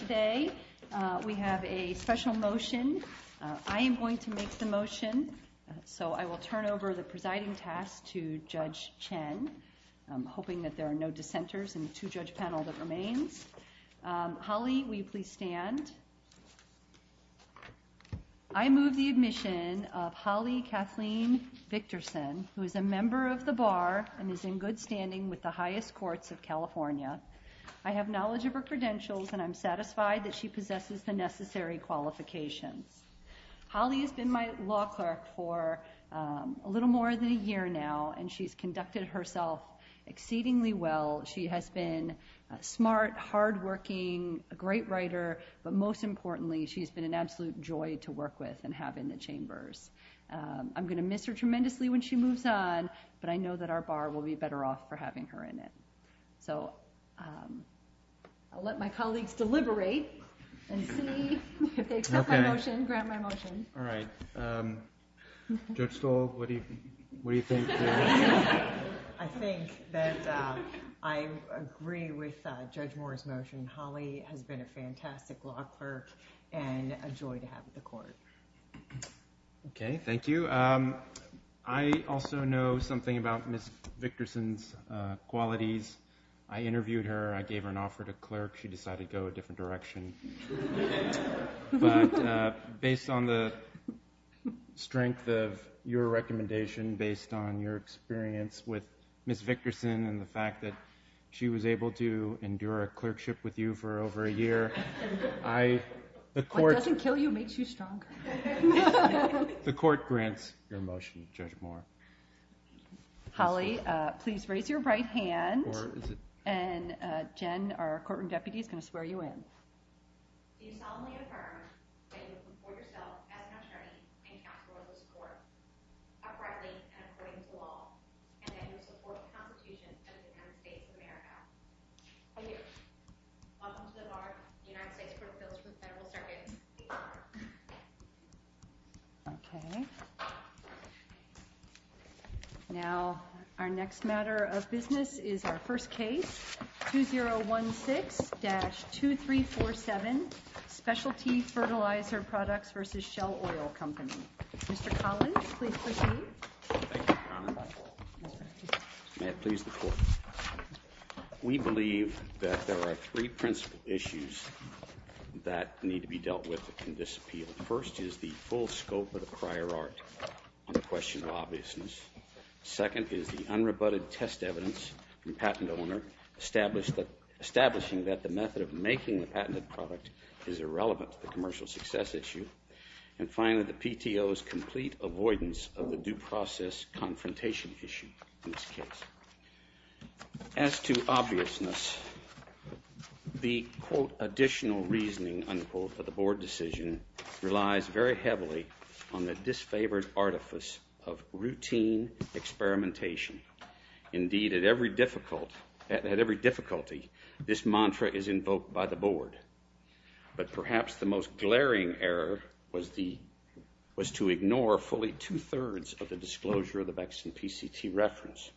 Today we have a special motion. I am going to make the motion, so I will turn over the presiding task to Judge Chen. I'm hoping that there are no dissenters in the two-judge panel that remains. Holly, will you please stand? I move the admission of Holly Kathleen Victorson, who is a member of the bar and is in good standing with the highest courts of California. I have knowledge of her and I'm satisfied that she possesses the necessary qualifications. Holly has been my law clerk for a little more than a year now and she's conducted herself exceedingly well. She has been smart, hard-working, a great writer, but most importantly she's been an absolute joy to work with and have in the chambers. I'm going to miss her tremendously when she moves on, but I know that our bar will be better off for having her in it. So, I'll let my colleagues deliberate and see if they accept my motion, grant my motion. All right. Judge Stoll, what do you think? I think that I agree with Judge Moore's motion. Holly has been a fantastic law clerk and a joy to have at the court. Okay, thank you. I also know something about Ms. Victorson's qualities. I interviewed her, I gave her an offer to clerk, she decided to go a different direction. Based on the strength of your recommendation, based on your experience with Ms. Victorson and the fact that she was able to endure a clerkship with you for over a year. What doesn't kill you makes you stronger. The court grants your motion, Judge Moore. Holly, please raise your right hand and Jen, our courtroom deputy, is going to swear you in. Okay. Now, our next matter of business is our first case, 2016-2347, Specialty Fertilizer Products vs. Shell Oil Company. Mr. Collins, please proceed. Thank you, Your Honor. May it please the court. We believe that there are three principal issues that need to be dealt with that can disappeal. First is the full scope of the prior art on the question of obviousness. Second is the unrebutted test evidence from the patent owner, establishing that the method of making the patent was complete avoidance of the due process confrontation issue in this case. As to obviousness, the, quote, additional reasoning, unquote, for the board decision relies very heavily on the to ignore fully two-thirds of the disclosure of the BECCS and PCT reference.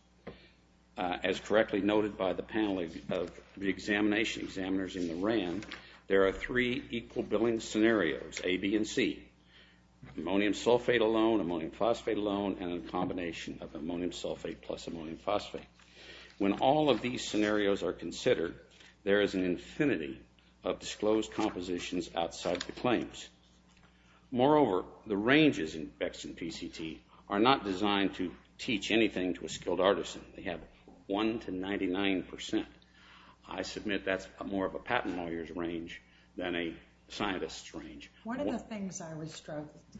As correctly noted by the panel of the examination, examiners in the RAM, there are three equal billing scenarios, A, B, and C. Ammonium sulfate alone, ammonium phosphate alone, and a combination of ammonium sulfate plus ammonium phosphate. When all of these scenarios are considered, there is an infinity of disclosed compositions outside the claims. Moreover, the ranges in BECCS and PCT are not designed to teach anything to a skilled artisan. They have one to 99%. I submit that's more of a patent lawyer's range than a scientist's range. One of the things I was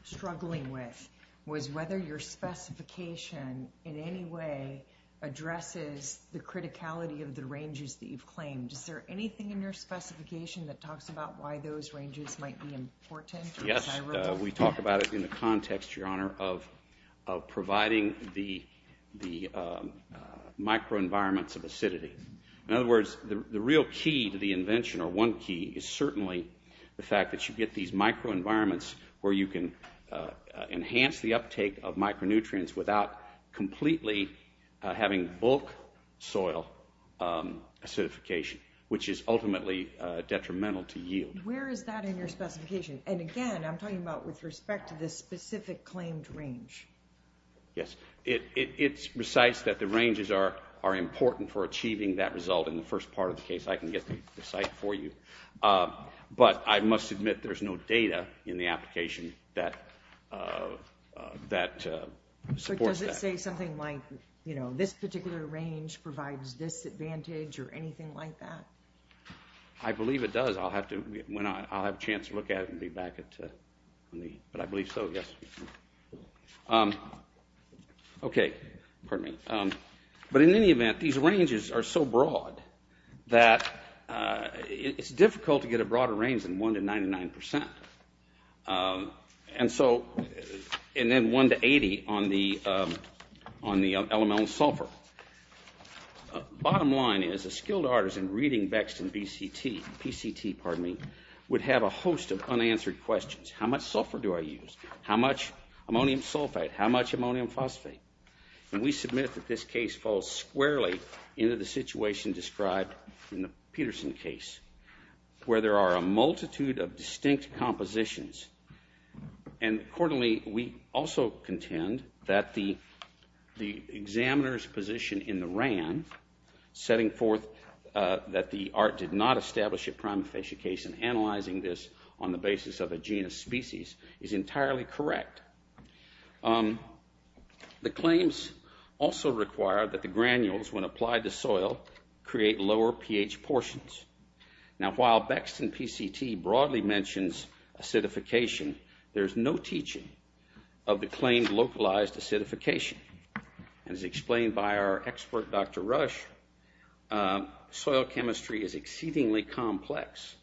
struggling with was whether your specification in any way addresses the criticality of the ranges that you've claimed. Is there anything in your specification that talks about why those ranges might be important? Yes, we talk about it in the context, Your Honor, of providing the microenvironments of acidity. In other words, the real key to the invention, or one key, is certainly the fact that you get these microenvironments where you can enhance the uptake of micronutrients without completely having bulk soil acidification, which is ultimately detrimental to yield. Where is that in your specification? And again, I'm talking about with respect to this specific claimed range. Yes, it recites that the ranges are important for achieving that result in the first part of the case. I can get the site for you. But I must admit there's no data in the application that supports that. But does it say something like, you know, this particular range provides this advantage or anything like that? I believe it does. I'll have a chance to look at it and be back. But I believe so, yes. Okay, pardon me. But in any event, these ranges are so broad that it's difficult to get a broader range than 1 to 99%. And then 1 to 80 on the elemental sulfur. Bottom line is, a skilled artisan reading Bexton PCT would have a host of unanswered questions. How much sulfur do I use? How much ammonium sulfate? How much ammonium phosphate? And we submit that this case falls squarely into the situation described in the Peterson case, where there are a multitude of distinct compositions. And accordingly, we also contend that the examiner's position in the RAND, setting forth that the art did not establish a prima facie case and analyzing this on the basis of a genus species, is entirely correct. The claims also require that the granules, when applied to soil, create lower pH portions. Now, while Bexton PCT broadly mentions acidification, there's no teaching of the claims localized acidification. As explained by our expert, Dr. Rush, soil chemistry is exceedingly complex.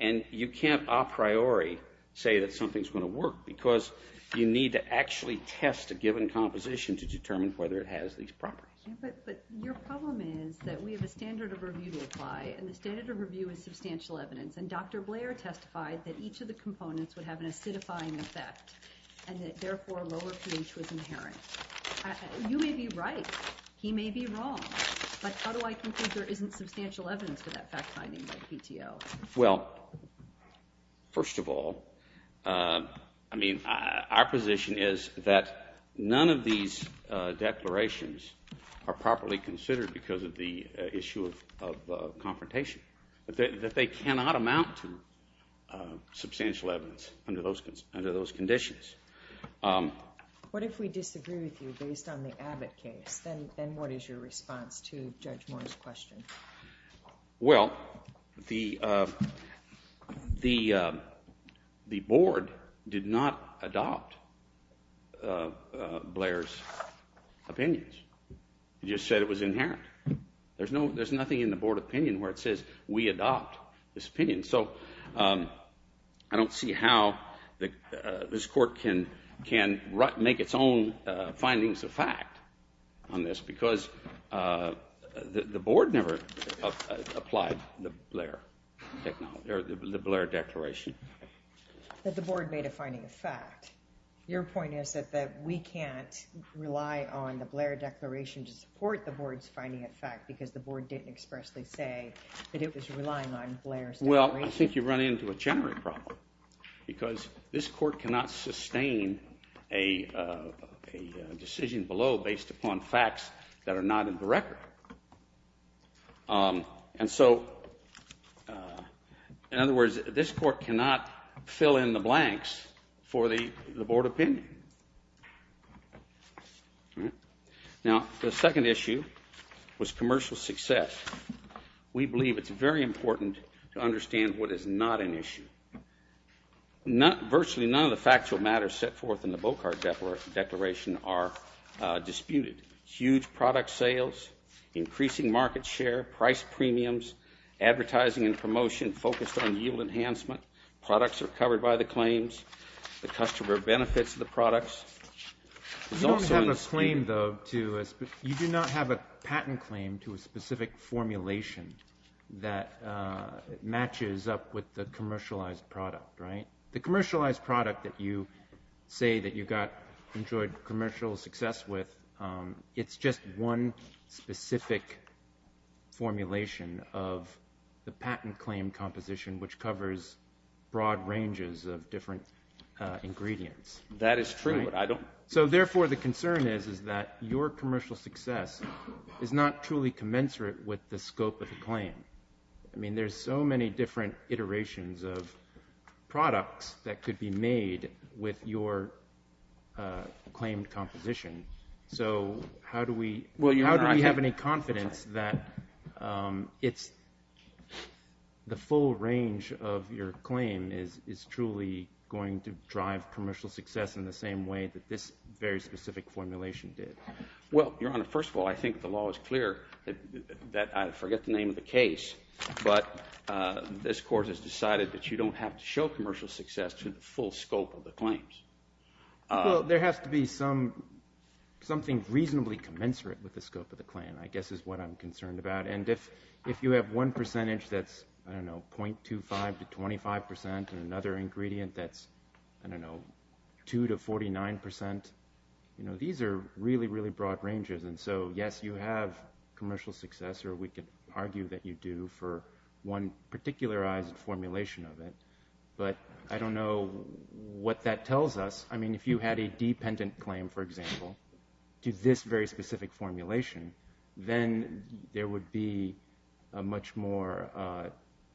And you can't a priori say that something's going to work, because you need to actually test a given composition to determine whether it has these properties. But your problem is that we have a standard of review to apply, and the standard of review is substantial evidence. And Dr. Blair testified that each of the components would have an acidifying effect, and that therefore lower pH was inherent. You may be right. He may be wrong. But how do I conclude there isn't substantial evidence for that fact finding by the PTO? Well, first of all, I mean, our position is that none of these declarations are properly considered because of the issue of confrontation. That they cannot amount to substantial evidence under those conditions. What if we disagree with you based on the Abbott case? Then what is your response to Judge Moore's question? Well, the board did not adopt Blair's opinions. He just said it was inherent. There's nothing in the board opinion where it says we adopt this opinion. So I don't see how this court can make its own findings of fact on this, because the board never applied the Blair declaration. But the board made a finding of fact. Your point is that we can't rely on the Blair declaration to support the board's finding of fact because the board didn't expressly say that it was relying on Blair's declaration. Well, I think you've run into a generic problem, because this court cannot sustain a decision below based upon facts that are not in the record. And so, in other words, this court cannot fill in the blanks for the board opinion. Now, the second issue was commercial success. We believe it's very important to understand what is not an issue. Virtually none of the factual matters set forth in the Bocard declaration are disputed. Huge product sales, increasing market share, price premiums, advertising and promotion focused on yield enhancement. Products are covered by the claims. The customer benefits the products. You don't have a patent claim to a specific formulation that matches up with the commercialized product, right? The commercialized product that you say that you got enjoyed commercial success with, it's just one specific formulation of the patent claim composition, which covers broad ranges of different ingredients. That is true. So, therefore, the concern is that your commercial success is not truly commensurate with the scope of the claim. I mean, there's so many different iterations of products that could be made with your claim composition. So, how do we have any confidence that the full range of your claim is truly going to drive commercial success in the same way that this very specific formulation did? Well, Your Honor, first of all, I think the law is clear. I forget the name of the case, but this court has decided that you don't have to show commercial success to the full scope of the claims. Well, there has to be something reasonably commensurate with the scope of the claim, I guess, is what I'm concerned about. And if you have one percentage that's, I don't know, 0.25 to 25 percent and another ingredient that's, I don't know, 2 to 49 percent, you know, these are really, really broad ranges. And so, yes, you have commercial success, or we could argue that you do, for one particularized formulation of it. But I don't know what that tells us. I mean, if you had a dependent claim, for example, to this very specific formulation, then there would be a much more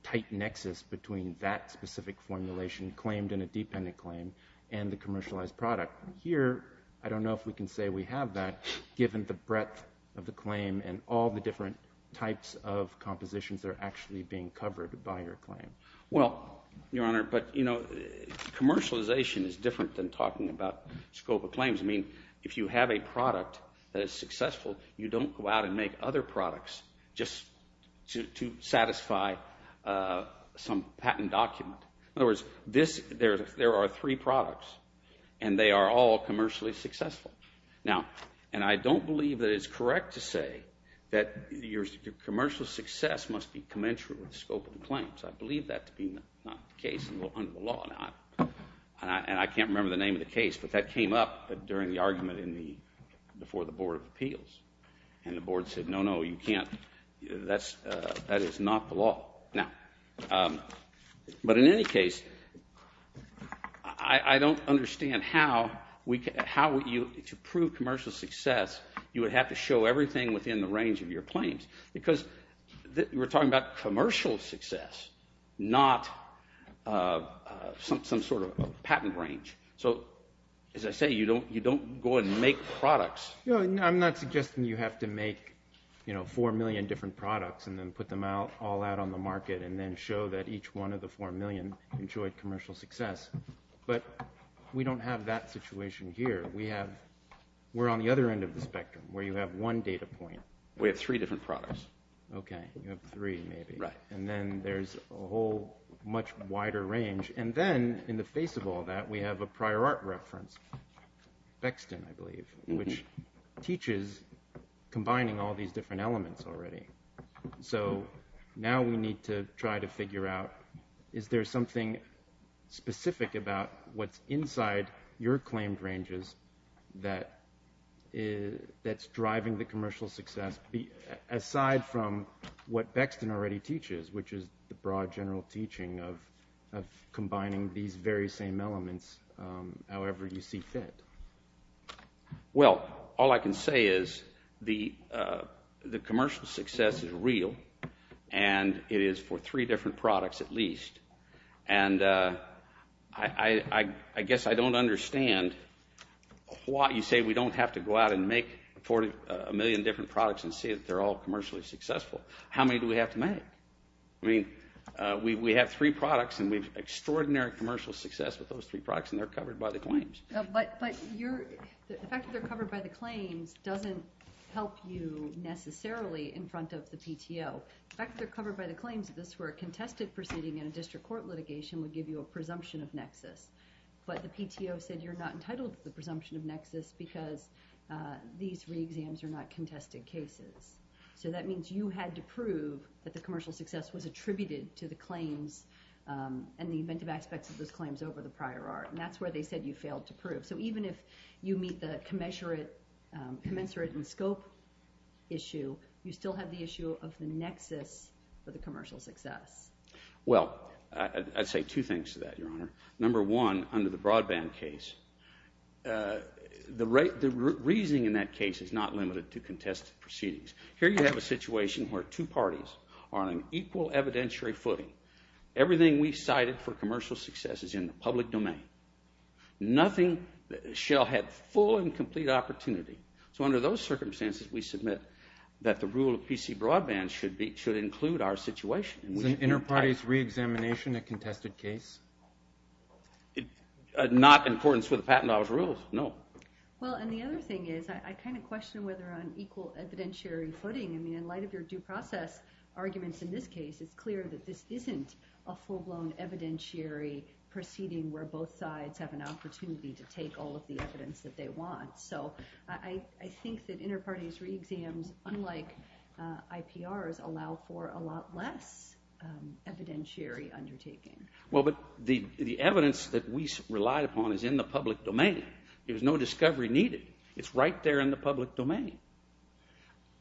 tight nexus between that specific formulation claimed in a dependent claim and the commercialized product. Here, I don't know if we can say we have that given the breadth of the claim and all the different types of compositions that are actually being covered by your claim. Well, Your Honor, but, you know, commercialization is different than talking about scope of claims. I mean, if you have a product that is successful, you don't go out and make other products just to satisfy some patent document. In other words, there are three products, and they are all commercially successful. Now, and I don't believe that it's correct to say that your commercial success must be commensurate with scope of the claims. I believe that to be not the case under the law. And I can't remember the name of the case, but that came up during the argument before the Board of Appeals. And the board said, no, no, you can't. That is not the law. But in any case, I don't understand how, to prove commercial success, you would have to show everything within the range of your claims. Because we're talking about commercial success, not some sort of patent range. So, as I say, you don't go and make products. I'm not suggesting you have to make, you know, 4 million different products and then put them all out on the market and then show that each one of the 4 million enjoyed commercial success. But we don't have that situation here. We're on the other end of the spectrum where you have one data point. We have three different products. Okay. You have three, maybe. Right. And then there's a whole much wider range. And then, in the face of all that, we have a prior art reference, Bexton, I believe, which teaches combining all these different elements already. So now we need to try to figure out is there something specific about what's inside your claimed ranges that's driving the commercial success aside from what Bexton already teaches, which is the broad general teaching of combining these very same elements however you see fit. Well, all I can say is the commercial success is real, and it is for three different products at least. And I guess I don't understand why you say we don't have to go out and make a million different products and say that they're all commercially successful. How many do we have to make? I mean, we have three products, and we have extraordinary commercial success with those three products, and they're covered by the claims. But the fact that they're covered by the claims doesn't help you necessarily in front of the PTO. The fact that they're covered by the claims of this were a contested proceeding in a district court litigation would give you a presumption of nexus. But the PTO said you're not entitled to the presumption of nexus because these reexams are not contested cases. So that means you had to prove that the commercial success was attributed to the claims and the inventive aspects of those claims over the prior art. And that's where they said you failed to prove. So even if you meet the commensurate in scope issue, you still have the issue of the nexus for the commercial success. Well, I'd say two things to that, Your Honor. Number one, under the broadband case, the reasoning in that case is not limited to contested proceedings. Here you have a situation where two parties are on an equal evidentiary footing. Everything we cited for commercial success is in the public domain. Nothing shall have full and complete opportunity. So under those circumstances, we submit that the rule of PC broadband should include our situation. Is an enterprise reexamination a contested case? Not in accordance with the patent law's rules, no. Well, and the other thing is I kind of question whether on equal evidentiary footing, I mean, in light of your due process arguments in this case, it's clear that this isn't a full-blown evidentiary proceeding where both sides have an opportunity to take all of the evidence that they want. So I think that interparties reexams, unlike IPRs, allow for a lot less evidentiary undertaking. Well, but the evidence that we relied upon is in the public domain. There's no discovery needed. It's right there in the public domain.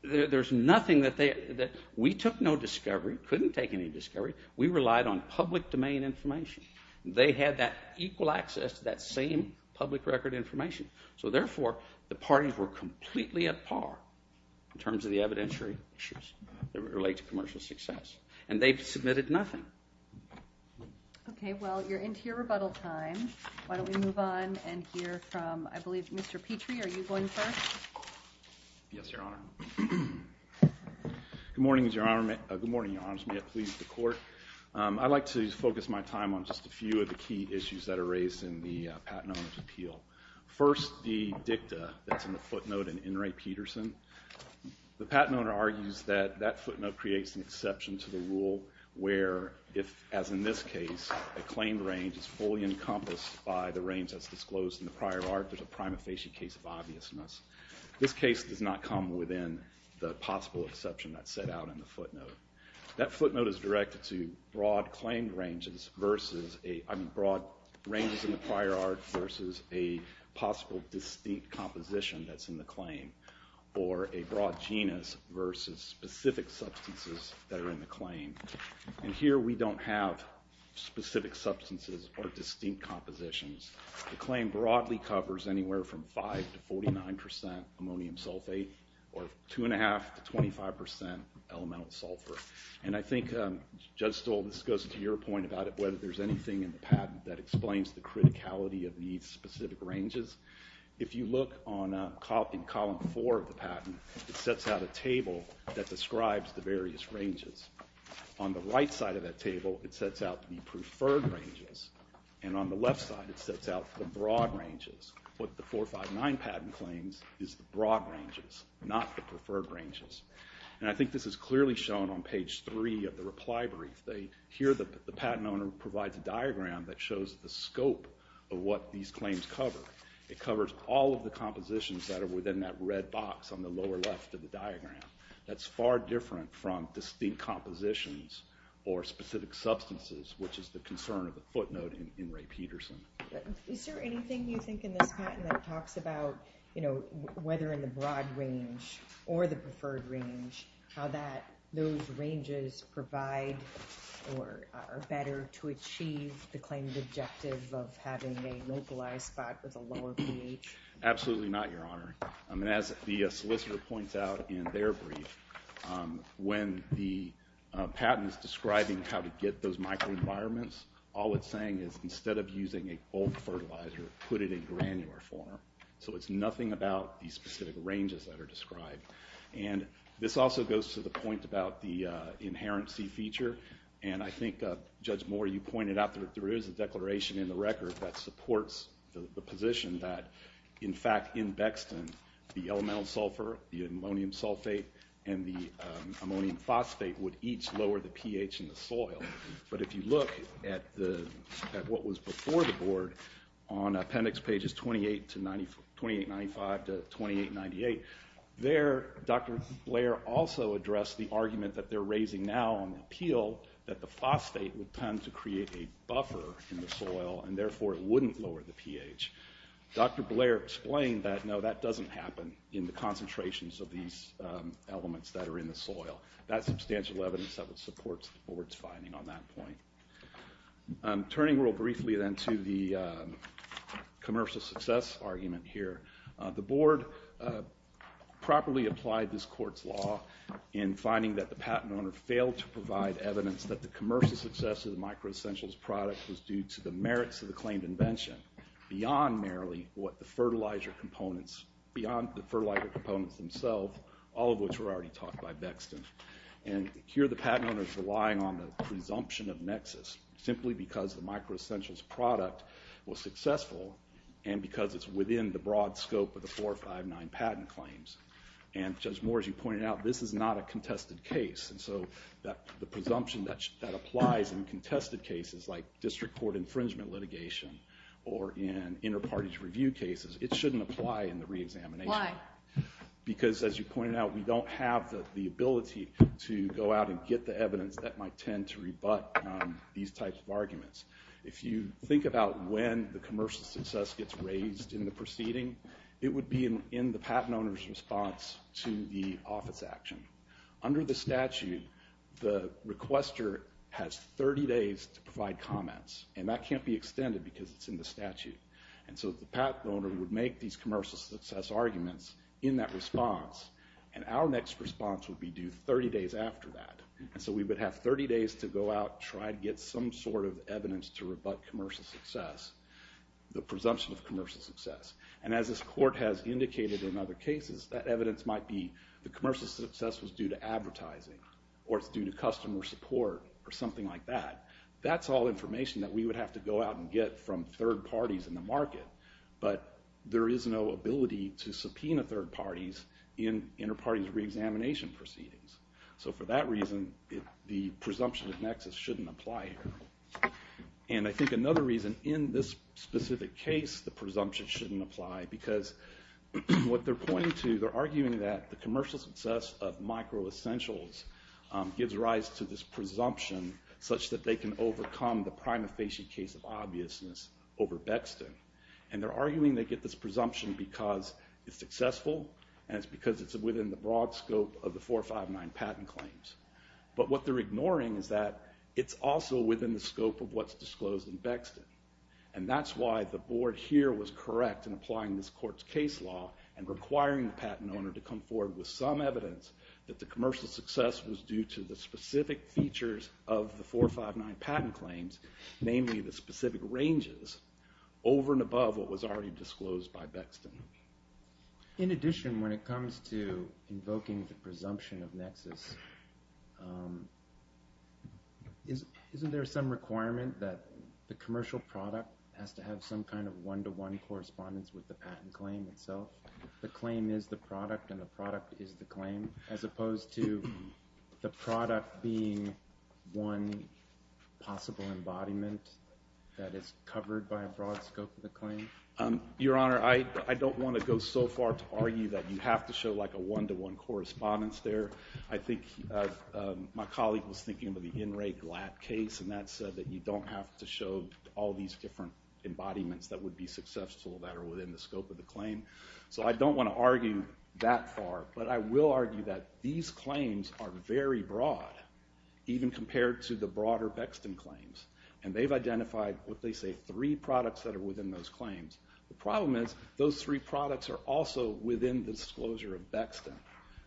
There's nothing that we took no discovery, couldn't take any discovery. We relied on public domain information. They had that equal access to that same public record information. So therefore, the parties were completely at par in terms of the evidentiary issues that relate to commercial success. And they submitted nothing. Okay, well, you're into your rebuttal time. Why don't we move on and hear from, I believe, Mr. Petrie. Are you going first? Yes, Your Honor. Good morning, Your Honor. Good morning, Your Honor. May it please the Court. I'd like to focus my time on just a few of the key issues that are raised in the Patent Owner's Appeal. First, the dicta that's in the footnote in In re Peterson. The Patent Owner argues that that footnote creates an exception to the rule where, as in this case, a claim range is fully encompassed by the range that's disclosed in the prior art. There's a prima facie case of obviousness. This case does not come within the possible exception that's set out in the footnote. That footnote is directed to broad claim ranges versus a, I mean, broad ranges in the prior art versus a possible distinct composition that's in the claim, or a broad genus versus specific substances that are in the claim. And here we don't have specific substances or distinct compositions. The claim broadly covers anywhere from 5% to 49% ammonium sulfate, or 2.5% to 25% elemental sulfur. And I think, Judge Stoll, this goes to your point about whether there's anything in the patent that explains the criticality of these specific ranges. If you look in column four of the patent, it sets out a table that describes the various ranges. On the right side of that table, it sets out the preferred ranges, and on the left side it sets out the broad ranges. What the 459 patent claims is the broad ranges, not the preferred ranges. And I think this is clearly shown on page three of the reply brief. Here the patent owner provides a diagram that shows the scope of what these claims cover. It covers all of the compositions that are within that red box on the lower left of the diagram. That's far different from distinct compositions or specific substances, which is the concern of the footnote in Ray Peterson. Is there anything you think in this patent that talks about whether in the broad range or the preferred range, how those ranges provide or are better to achieve the claimed objective of having a localized spot with a lower pH? Absolutely not, Your Honor. As the solicitor points out in their brief, when the patent is describing how to get those microenvironments, all it's saying is instead of using a bulk fertilizer, put it in granular form. So it's nothing about the specific ranges that are described. And this also goes to the point about the inherency feature, and I think, Judge Moore, you pointed out that there is a declaration in the record that supports the position that, in fact, in Bexton, the elemental sulfur, the ammonium sulfate, and the ammonium phosphate would each lower the pH in the soil. But if you look at what was before the board on appendix pages 2895 to 2898, there Dr. Blair also addressed the argument that they're raising now on the appeal that the phosphate would tend to create a buffer in the soil, and therefore it wouldn't lower the pH. Dr. Blair explained that, no, that doesn't happen in the concentrations of these elements that are in the soil. That's substantial evidence that would support the board's finding on that point. Turning real briefly then to the commercial success argument here, the board properly applied this court's law in finding that the patent owner failed to provide evidence that the commercial success of the microessentials product was due to the merits of the claimed invention. Beyond merely what the fertilizer components, beyond the fertilizer components themselves, all of which were already taught by Bexton. And here the patent owner's relying on the presumption of nexus, simply because the microessentials product was successful, and because it's within the broad scope of the 459 patent claims. And Judge Moore, as you pointed out, this is not a contested case, and so the presumption that applies in contested cases like district court infringement litigation, or in inter-parties review cases, it shouldn't apply in the re-examination. Why? Because, as you pointed out, we don't have the ability to go out and get the evidence that might tend to rebut these types of arguments. If you think about when the commercial success gets raised in the proceeding, it would be in the patent owner's response to the office action. Under the statute, the requester has 30 days to provide comments, and that can't be extended because it's in the statute. And so the patent owner would make these commercial success arguments in that response, and our next response would be due 30 days after that. And so we would have 30 days to go out and try to get some sort of evidence to rebut commercial success, the presumption of commercial success. And as this court has indicated in other cases, that evidence might be the commercial success was due to advertising, or it's due to customer support, or something like that. That's all information that we would have to go out and get from third parties in the market. But there is no ability to subpoena third parties in inter-parties re-examination proceedings. So for that reason, the presumption of nexus shouldn't apply here. And I think another reason in this specific case the presumption shouldn't apply, because what they're pointing to, they're arguing that the commercial success of micro-essentials gives rise to this presumption such that they can overcome the prima facie case of obviousness over Bexton. And they're arguing they get this presumption because it's successful, and it's because it's within the broad scope of the 459 patent claims. But what they're ignoring is that it's also within the scope of what's disclosed in Bexton. And that's why the board here was correct in applying this court's case law and requiring the patent owner to come forward with some evidence that the commercial success was due to the specific features of the 459 patent claims, namely the specific ranges, over and above what was already disclosed by Bexton. In addition, when it comes to invoking the presumption of nexus, isn't there some requirement that the commercial product has to have some kind of one-to-one correspondence with the patent claim itself? The claim is the product, and the product is the claim, as opposed to the product being one possible embodiment that is covered by a broad scope of the claim? Your Honor, I don't want to go so far to argue that you have to show like a one-to-one correspondence there. I think my colleague was thinking about the N. Ray Glatt case, and that said that you don't have to show all these different embodiments that would be successful that are within the scope of the claim. So I don't want to argue that far. But I will argue that these claims are very broad, even compared to the broader Bexton claims. And they've identified, what they say, three products that are within those claims.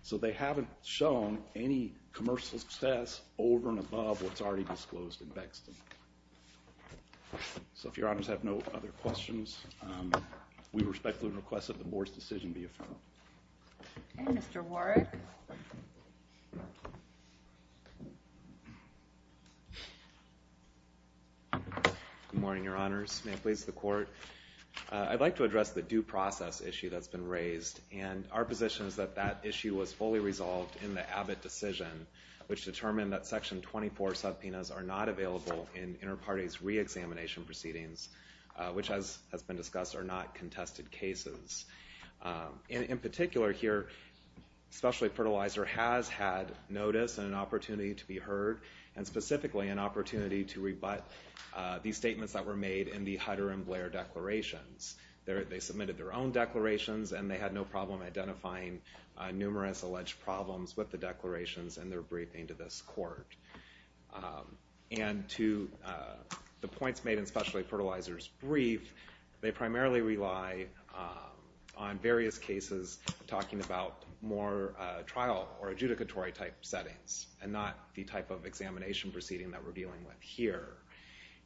So they haven't shown any commercial success over and above what's already disclosed in Bexton. So if Your Honors have no other questions, we respectfully request that the Board's decision be affirmed. Okay, Mr. Warrick. Good morning, Your Honors. May it please the Court? I'd like to address the due process issue that's been raised, and our position is that that issue was fully resolved in the Abbott decision, which determined that Section 24 subpoenas are not available in interparties' reexamination proceedings, which, as has been discussed, are not contested cases. In particular here, Specialty Fertilizer has had notice and an opportunity to be heard, and specifically an opportunity to rebut these statements that were made in the Hutter and Blair declarations. They submitted their own declarations, and they had no problem identifying numerous alleged problems with the declarations in their briefing to this Court. And to the points made in Specialty Fertilizer's brief, they primarily rely on various cases talking about more trial or adjudicatory-type settings, and not the type of examination proceeding that we're dealing with here.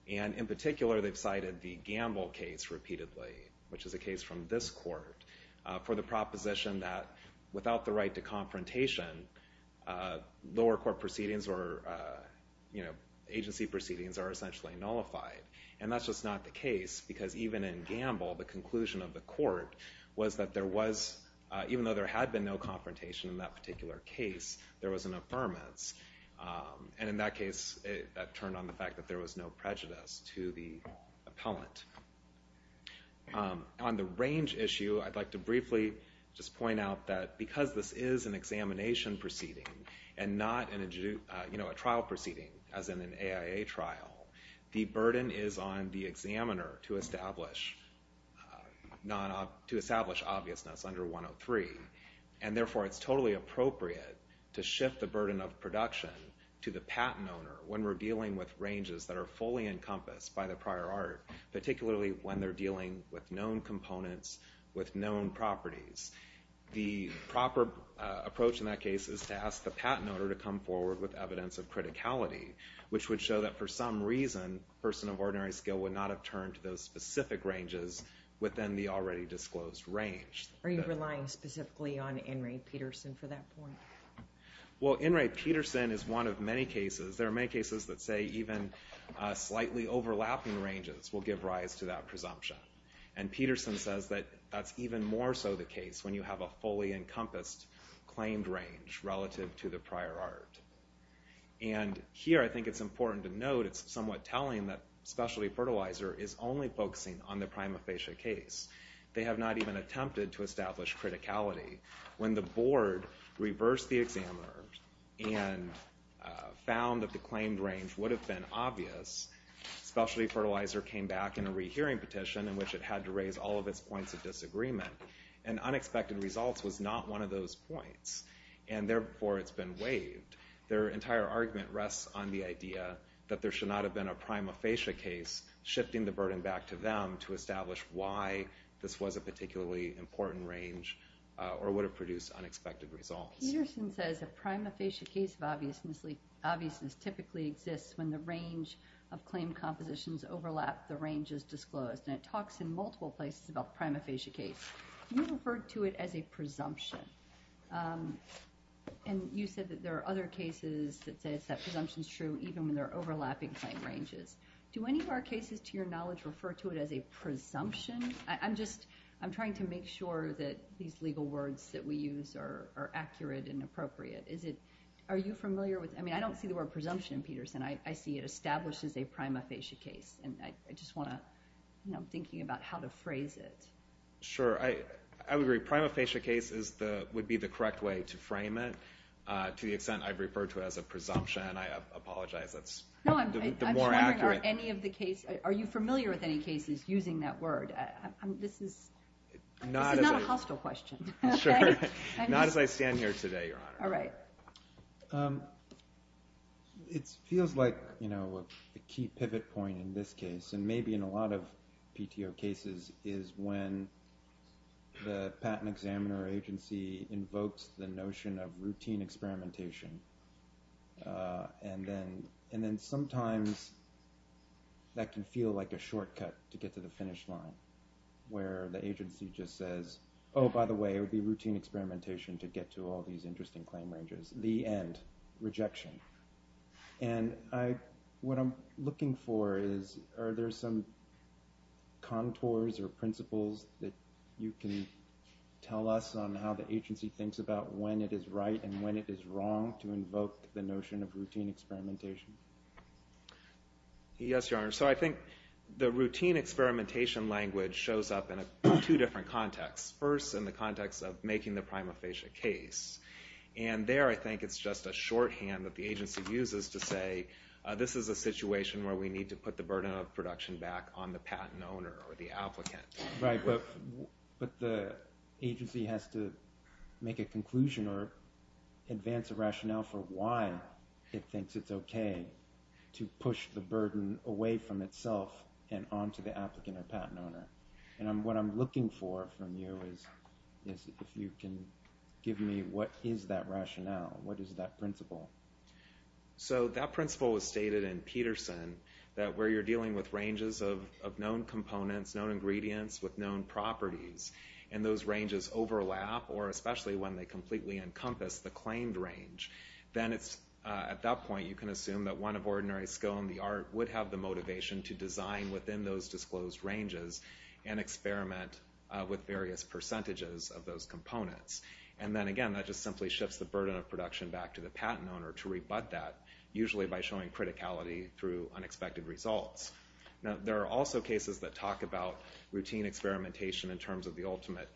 And in particular, they've cited the Gamble case repeatedly, which is a case from this Court, for the proposition that without the right to confrontation, lower court proceedings or agency proceedings are essentially nullified. And that's just not the case, because even in Gamble, the conclusion of the Court was that there was, even though there had been no confrontation in that particular case, there was an affirmance. And in that case, that turned on the fact that there was no prejudice to the appellant. On the range issue, I'd like to briefly just point out that because this is an examination proceeding and not a trial proceeding, as in an AIA trial, the burden is on the examiner to establish obviousness under 103, and therefore it's totally appropriate to shift the burden of production to the patent owner when we're dealing with ranges that are fully encompassed by the prior art, particularly when they're dealing with known components, with known properties. The proper approach in that case is to ask the patent owner to come forward with evidence of criticality, which would show that for some reason, a person of ordinary skill would not have turned to those specific ranges within the already disclosed range. Are you relying specifically on In re Pederson for that point? Well, In re Pederson is one of many cases, there are many cases that say even slightly overlapping ranges will give rise to that presumption. And Pederson says that that's even more so the case when you have a fully encompassed claimed range relative to the prior art. And here, I think it's important to note, it's somewhat telling that Specialty Fertilizer is only focusing on the prima facie case. They have not even attempted to establish criticality. When the board reversed the examiner and found that the claimed range would have been obvious, Specialty Fertilizer came back in a rehearing petition in which it had to raise all of its points of disagreement. And unexpected results was not one of those points. And therefore, it's been waived. Their entire argument rests on the idea that there should not have been a prima facie case shifting the burden back to them to establish why this was a particularly important range or would have produced unexpected results. Pederson says a prima facie case of obviousness typically exists when the range of claimed compositions overlap the ranges disclosed. And it talks in multiple places about the prima facie case. You referred to it as a presumption. And you said that there are other cases that says that presumption is true even when they're overlapping claimed ranges. Do any of our cases, to your knowledge, refer to it as a presumption? I'm trying to make sure that these legal words that we use are accurate and appropriate. Are you familiar with it? I mean, I don't see the word presumption in Pederson. I see it established as a prima facie case. And I'm thinking about how to phrase it. Sure. I would agree. Prima facie case would be the correct way to frame it to the extent I've referred to it as a presumption. I apologize. That's the more accurate. No, I'm just wondering, are you familiar with any cases using that word? This is not a hostile question. Sure. Not as I stand here today, Your Honor. All right. It feels like a key pivot point in this case, and maybe in a lot of PTO cases, is when the patent examiner agency invokes the notion of routine experimentation and then sometimes that can feel like a shortcut to get to the finish line, where the agency just says, oh, by the way, it would be routine experimentation to get to all these interesting claim ranges. The end. Rejection. And what I'm looking for is, are there some contours or principles that you can tell us on how the agency thinks about when it is right and when it is wrong to invoke the notion of routine experimentation? Yes, Your Honor. So I think the routine experimentation language shows up in two different contexts. First, in the context of making the prima facie case. And there I think it's just a shorthand that the agency uses to say, this is a situation where we need to put the burden of production back on the patent owner or the applicant. Right, but the agency has to make a conclusion or advance a rationale for why it thinks it's okay to push the burden away from itself and onto the applicant or patent owner. And what I'm looking for from you is if you can give me what is that rationale, what is that principle. So that principle was stated in Peterson, that where you're dealing with ranges of known components, known ingredients with known properties, and those ranges overlap, or especially when they completely encompass the claimed range, then at that point you can assume that one of ordinary skill in the art would have the motivation to design within those disclosed ranges and experiment with various percentages of those components. And then again, that just simply shifts the burden of production back to the patent owner to rebut that, usually by showing criticality through unexpected results. Now there are also cases that talk about routine experimentation in terms of the ultimate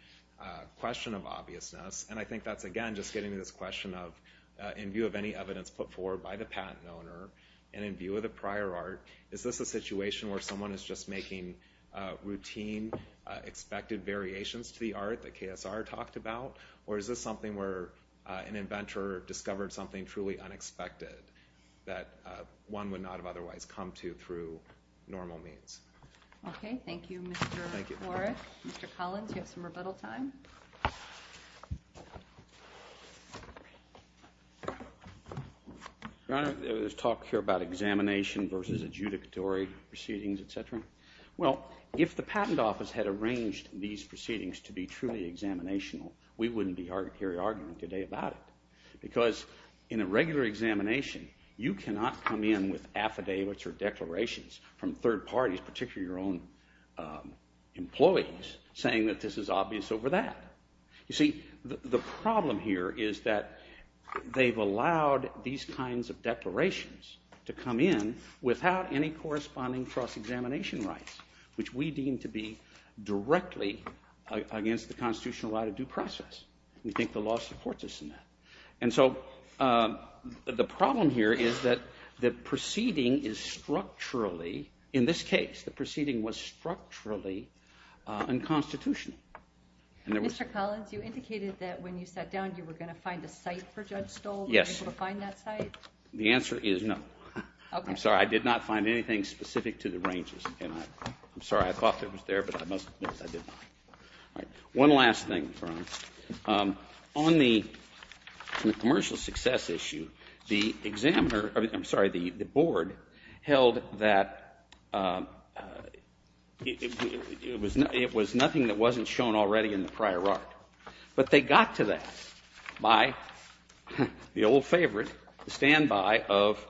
question of obviousness, and I think that's again just getting to this question of in view of any evidence put forward by the patent owner and in view of the prior art, is this a situation where someone is just making routine expected variations to the art that KSR talked about, or is this something where an inventor discovered something truly unexpected that one would not have otherwise come to through normal means. Okay, thank you Mr. Warrick. Mr. Collins, you have some rebuttal time. Your Honor, there was talk here about examination versus adjudicatory proceedings, etc. Well, if the patent office had arranged these proceedings to be truly examinational, we wouldn't be here arguing today about it. Because in a regular examination, you cannot come in with affidavits or declarations from third parties, particularly your own employees, saying that this is obvious over that. You see, the problem here is that they've allowed these kinds of declarations to come in without any corresponding cross-examination rights, which we deem to be directly against the constitutional right of due process. We think the law supports us in that. And so the problem here is that the proceeding is structurally, in this case, the proceeding was structurally unconstitutional. Mr. Collins, you indicated that when you sat down you were going to find a site for Judge Stoll. Yes. Were you able to find that site? The answer is no. I'm sorry, I did not find anything specific to the ranges. I'm sorry, I thought that was there, but I must admit that I did not. One last thing, Your Honor. On the commercial success issue, the board held that it was nothing that wasn't shown already in the prior art. But they got to that by the old favorite, the standby of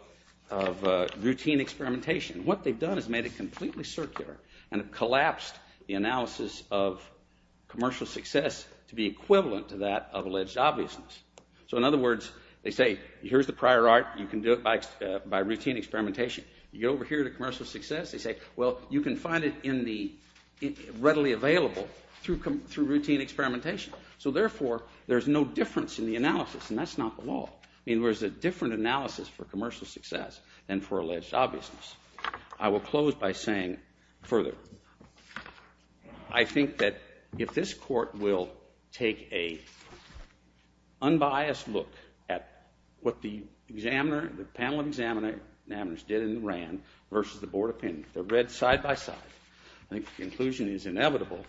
routine experimentation. What they've done is made it completely circular and collapsed the analysis of commercial success to be equivalent to that of alleged obviousness. So in other words, they say, here's the prior art, you can do it by routine experimentation. You get over here to commercial success, they say, well, you can find it readily available through routine experimentation. So therefore, there's no difference in the analysis, and that's not the law. There's a different analysis for commercial success than for alleged obviousness. I will close by saying further, I think that if this court will take a unbiased look at what the panel of examiners did and ran versus the board opinion, if they're read side by side, I think the conclusion is inevitable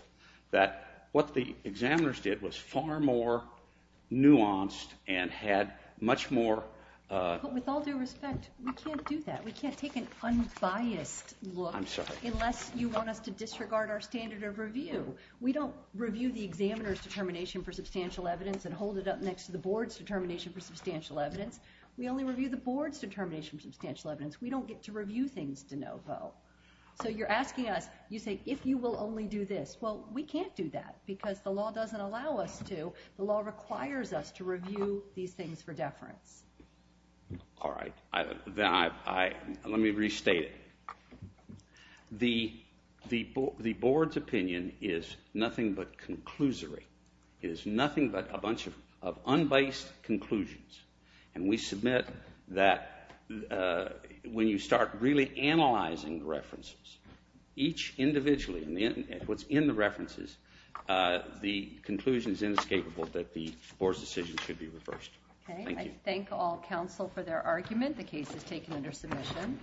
that what the examiners did was far more nuanced and had much more... But with all due respect, we can't do that. We can't take an unbiased look... I'm sorry. Unless you want us to disregard our standard of review. We don't review the examiner's determination for substantial evidence and hold it up next to the board's determination for substantial evidence. We only review the board's determination for substantial evidence. We don't get to review things de novo. So you're asking us, you say, if you will only do this. Well, we can't do that, because the law doesn't allow us to. The law requires us to review these things for deference. All right. Then I... Let me restate it. The board's opinion is nothing but conclusory. It is nothing but a bunch of unbiased conclusions. And we submit that when you start really analyzing the references, each individually, what's in the references, the conclusion is inescapable that the board's decision should be reversed. Thank you. I thank all counsel for their argument. The case is taken under submission.